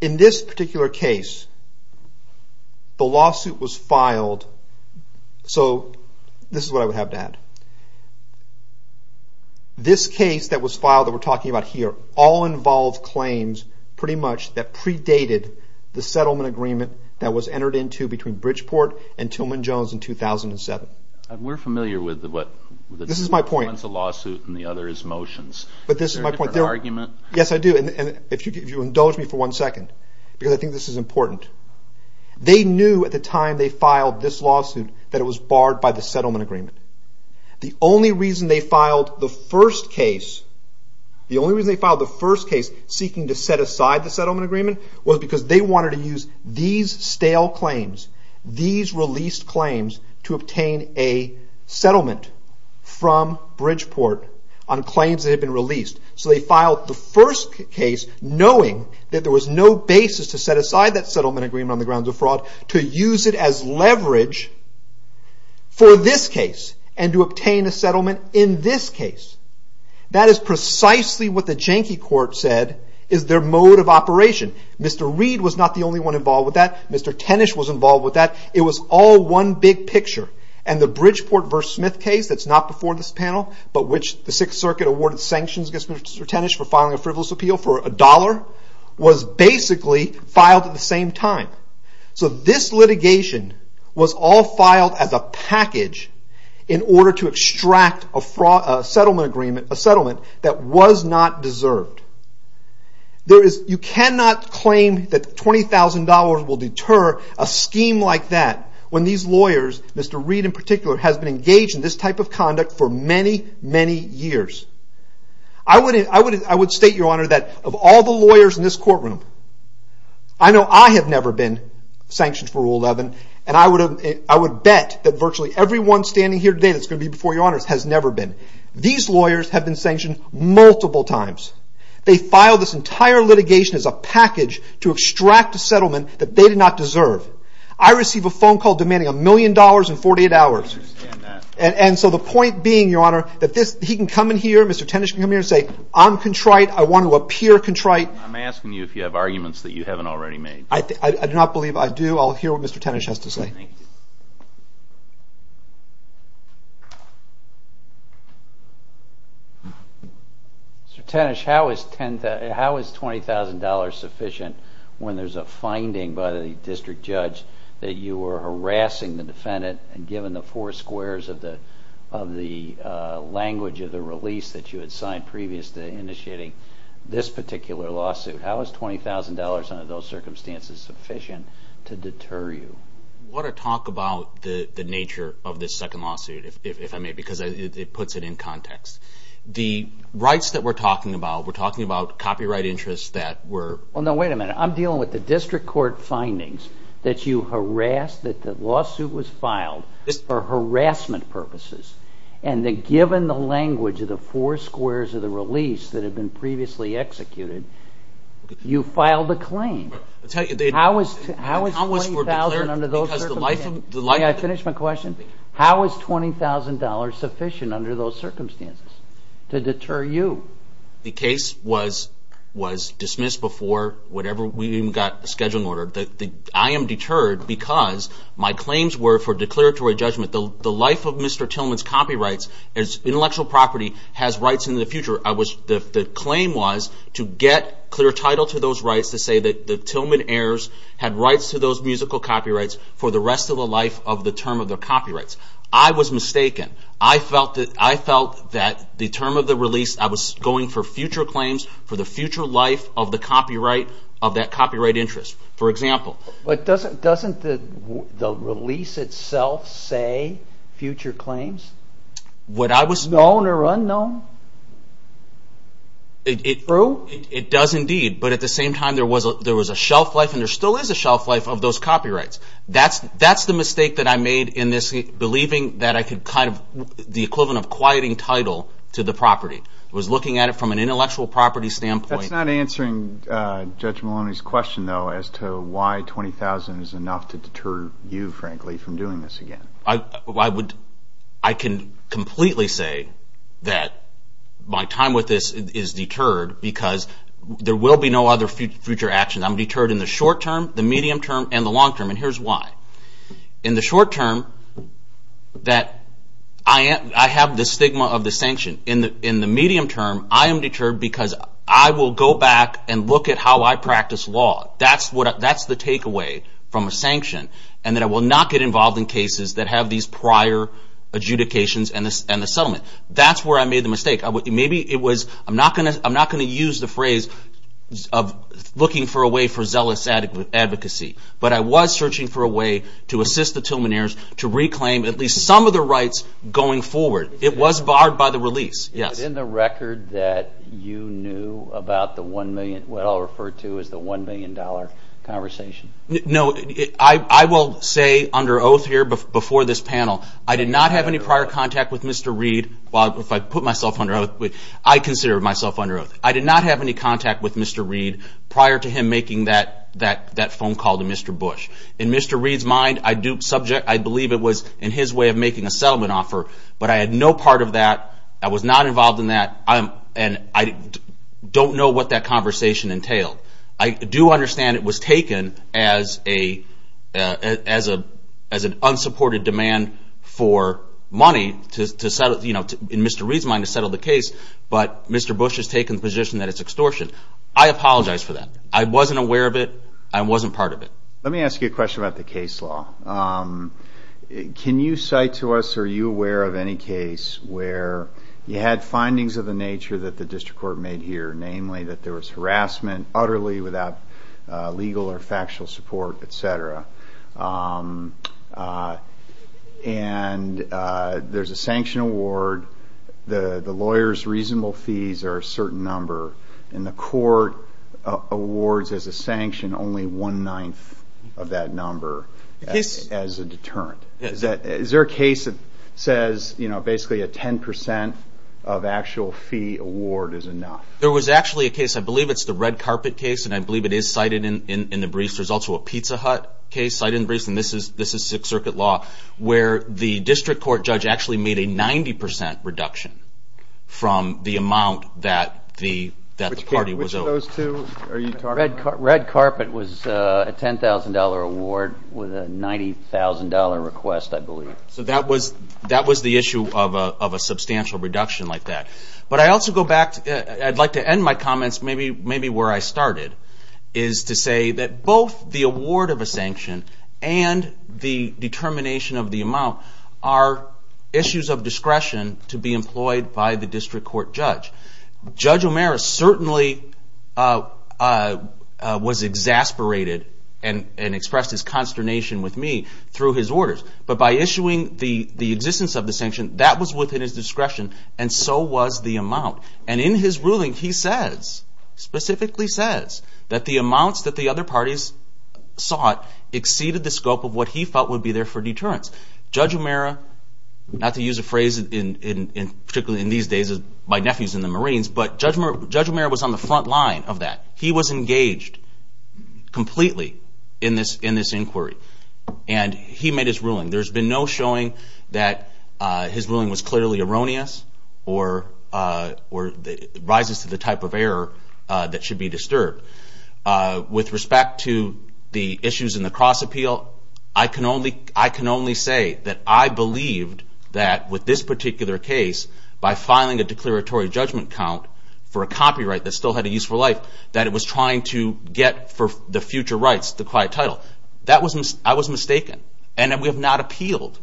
In this particular case, the lawsuit was filed, so this is what I would have to add. This case that was filed that we're talking about here all involved claims, pretty much, that predated the settlement agreement that was entered into between Bridgeport and Tilmon Jones in 2007. We're familiar with what... This is my point. One's a lawsuit and the other is motions. But this is my point. Is there a different argument? Yes, I do. And if you indulge me for one second, because I think this is important. They knew at the time they filed this lawsuit that it was barred by the settlement agreement. The only reason they filed the first case seeking to set aside the settlement agreement was because they wanted to use these stale claims, these released claims, to obtain a settlement from Bridgeport on claims that had been released. So they filed the first case knowing that there was no basis to set aside that settlement agreement on the grounds of fraud to use it as leverage for this case and to obtain a settlement in this case. That is precisely what the Janky Court said is their mode of operation. Mr. Reed was not the only one involved with that. Mr. Tenish was involved with that. It was all one big picture. And the Bridgeport v. Smith case that's not before this panel, but which the Sixth Circuit awarded sanctions against Mr. Tenish for filing a frivolous appeal for a dollar, was basically filed at the same time. So this litigation was all filed as a package in order to extract a settlement that was not deserved. You cannot claim that $20,000 will deter a scheme like that when these lawyers, Mr. Reed in particular, has been engaged in this type of conduct for many, many years. I would state, Your Honor, that of all the lawyers in this courtroom, I know I have never been sanctioned for Rule 11, and I would bet that virtually everyone standing here today that's going to be before Your Honors has never been. These lawyers have been sanctioned multiple times. They filed this entire litigation as a package to extract a settlement that they did not deserve. I receive a phone call demanding a million dollars in 48 hours. And so the point being, Your Honor, that he can come in here, Mr. Tenish can come in here and say, I'm contrite, I want to appear contrite. I'm asking you if you have arguments that you haven't already made. I do not believe I do. I'll hear what Mr. Tenish has to say. Thank you. Mr. Tenish, how is $20,000 sufficient when there's a finding by the district judge that you were harassing the defendant and given the four squares of the language of the release that you had signed previous to initiating this particular lawsuit? How is $20,000 under those circumstances sufficient to deter you? I want to talk about the nature of this second lawsuit, if I may, because it puts it in context. The rights that we're talking about, we're talking about copyright interests that were... Well, no, wait a minute. I'm dealing with the district court findings that you harassed, that the lawsuit was filed for harassment purposes, and that given the language of the four squares of the release that had been previously executed, you filed the claim. How is $20,000 under those circumstances... May I finish my question? How is $20,000 sufficient under those circumstances to deter you? The case was dismissed before we even got a scheduling order. I am deterred because my claims were for declaratory judgment. The life of Mr. Tillman's copyrights, his intellectual property, has rights in the future. The claim was to get clear title to those rights, to say that the Tillman heirs had rights to those musical copyrights for the rest of the life of the term of their copyrights. I was mistaken. I felt that the term of the release, I was going for future claims for the future life of that copyright interest, for example. But doesn't the release itself say future claims? What I was... It does indeed, but at the same time there was a shelf life, and there still is a shelf life of those copyrights. That's the mistake that I made in this, believing that I could kind of, the equivalent of quieting title to the property. I was looking at it from an intellectual property standpoint. That's not answering Judge Maloney's question, though, as to why $20,000 is enough to deter you, frankly, from doing this again. I can completely say that my time with this is deterred because there will be no other future actions. I'm deterred in the short term, the medium term, and the long term, and here's why. In the short term, I have the stigma of the sanction. In the medium term, I am deterred because I will go back and look at how I practice law. That's the takeaway from a sanction, and that I will not get involved in cases that have these prior adjudications and the settlement. That's where I made the mistake. Maybe it was, I'm not going to use the phrase of looking for a way for zealous advocacy, but I was searching for a way to assist the Tillmaneers to reclaim at least some of the rights going forward. It was barred by the release. Is it in the record that you knew about what I'll refer to as the $1 million conversation? No. I will say under oath here before this panel, I did not have any prior contact with Mr. Reid. Well, if I put myself under oath, I consider myself under oath. I did not have any contact with Mr. Reid prior to him making that phone call to Mr. Bush. In Mr. Reid's mind, I believe it was in his way of making a settlement offer, but I had no part of that. I was not involved in that, and I don't know what that conversation entailed. I do understand it was taken as an unsupported demand for money in Mr. Reid's mind to settle the case, but Mr. Bush has taken the position that it's extortion. I apologize for that. I wasn't aware of it. I wasn't part of it. Let me ask you a question about the case law. Can you cite to us, are you aware of any case where you had findings of the nature that the district court made here, namely that there was harassment utterly without legal or factual support, et cetera, and there's a sanction award. The lawyer's reasonable fees are a certain number, and the court awards as a sanction only one-ninth of that number. Yes. As a deterrent. Yes. Is there a case that says basically a 10% of actual fee award is enough? There was actually a case, I believe it's the red carpet case, and I believe it is cited in the briefs. There's also a Pizza Hut case cited in the briefs, and this is Sixth Circuit law, where the district court judge actually made a 90% reduction from the amount that the party was owed. Which of those two are you talking about? The red carpet was a $10,000 award with a $90,000 request, I believe. So that was the issue of a substantial reduction like that. But I'd like to end my comments maybe where I started, is to say that both the award of a sanction and the determination of the amount are issues of discretion to be employed by the district court judge. Judge O'Meara certainly was exasperated and expressed his consternation with me through his orders. But by issuing the existence of the sanction, that was within his discretion, and so was the amount. And in his ruling he says, specifically says, that the amounts that the other parties sought exceeded the scope of what he felt would be there for deterrence. Judge O'Meara, not to use a phrase particularly in these days, my nephew's in the Marines, but Judge O'Meara was on the front line of that. He was engaged completely in this inquiry. And he made his ruling. There's been no showing that his ruling was clearly erroneous or rises to the type of error that should be disturbed. With respect to the issues in the cross-appeal, I can only say that I believed that with this particular case, by filing a declaratory judgment count for a copyright that still had a useful life, that it was trying to get for the future rights the quiet title. I was mistaken. And we have not appealed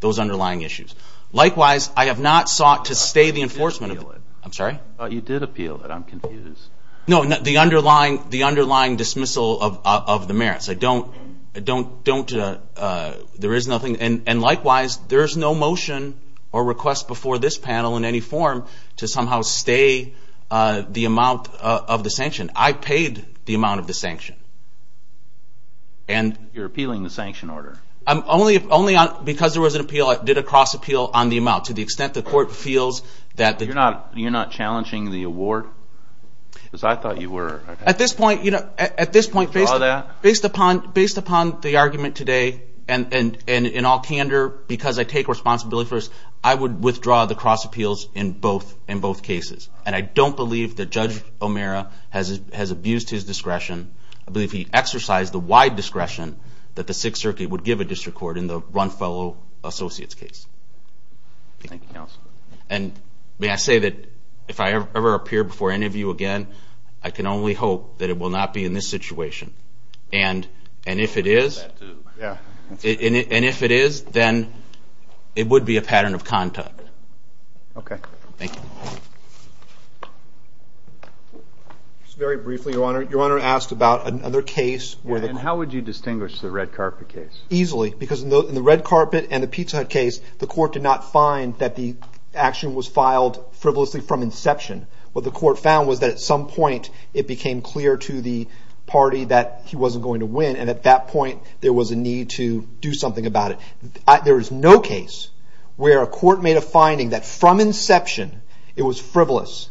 those underlying issues. Likewise, I have not sought to stay the enforcement of... I'm sorry? You did appeal it. I'm confused. No, the underlying dismissal of the merits. I don't... There is nothing. And likewise, there is no motion or request before this panel in any form to somehow stay the amount of the sanction. I paid the amount of the sanction. You're appealing the sanction order? Only because there was an appeal. I did a cross-appeal on the amount to the extent the court feels that... You're not challenging the award? Because I thought you were. At this point, based upon the argument today, and in all candor, because I take responsibility for this, I would withdraw the cross-appeals in both cases. And I don't believe that Judge O'Meara has abused his discretion. I believe he exercised the wide discretion that the Sixth Circuit would give a district court in the Runfellow Associates case. Thank you, counsel. And may I say that if I ever appear before any of you again, I can only hope that it will not be in this situation. And if it is, then it would be a pattern of conduct. Okay. Thank you. Just very briefly, Your Honor, Your Honor asked about another case where the... And how would you distinguish the red carpet case? Easily, because in the red carpet and the Pizza Hut case, the court did not find that the action was filed frivolously from inception. What the court found was that at some point it became clear to the party that he wasn't going to win, and at that point there was a need to do something about it. There is no case where a court made a finding that from inception it was frivolous,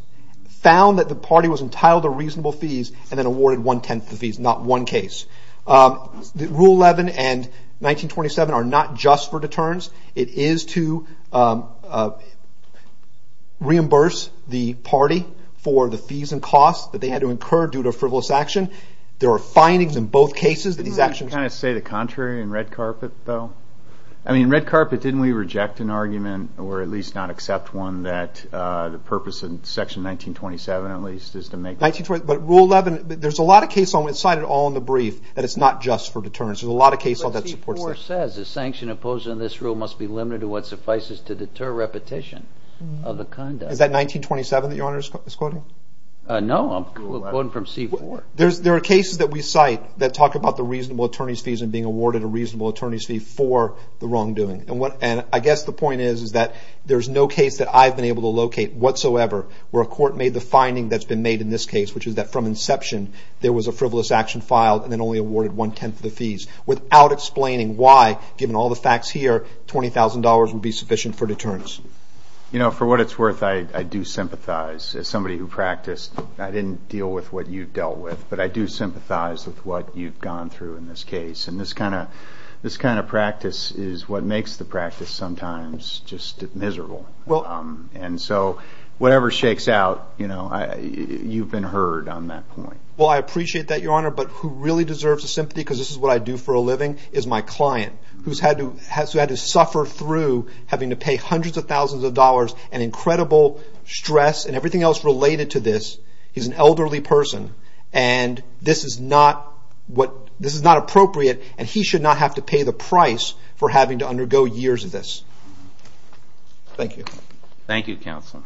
found that the party was entitled to reasonable fees, and then awarded one-tenth of the fees. Not one case. Rule 11 and 1927 are not just for deterrence. It is to reimburse the party for the fees and costs that they had to incur due to frivolous action. There are findings in both cases that these actions... Can you kind of say the contrary in red carpet, though? I mean, in red carpet, didn't we reject an argument, or at least not accept one, that the purpose in Section 1927, at least, is to make... But Rule 11, there's a lot of case law that's cited all in the brief that it's not just for deterrence. There's a lot of case law that supports that. But C-4 says the sanction imposed on this rule must be limited to what suffices to deter repetition of the conduct. Is that 1927 that your Honor is quoting? No, I'm quoting from C-4. There are cases that we cite that talk about the reasonable attorney's fees and being awarded a reasonable attorney's fee for the wrongdoing. And I guess the point is that there's no case that I've been able to locate whatsoever where a court made the finding that's been made in this case, which is that from inception, there was a frivolous action filed and then only awarded one-tenth of the fees, without explaining why, given all the facts here, $20,000 would be sufficient for deterrence. You know, for what it's worth, I do sympathize. As somebody who practiced, I didn't deal with what you've dealt with, but I do sympathize with what you've gone through in this case. And this kind of practice is what makes the practice sometimes just miserable. And so whatever shakes out, you've been heard on that point. Well, I appreciate that, Your Honor. But who really deserves sympathy, because this is what I do for a living, is my client, who's had to suffer through having to pay hundreds of thousands of dollars and incredible stress and everything else related to this. He's an elderly person, and this is not appropriate, and he should not have to pay the price for having to undergo years of this. Thank you. Thank you, Counselor.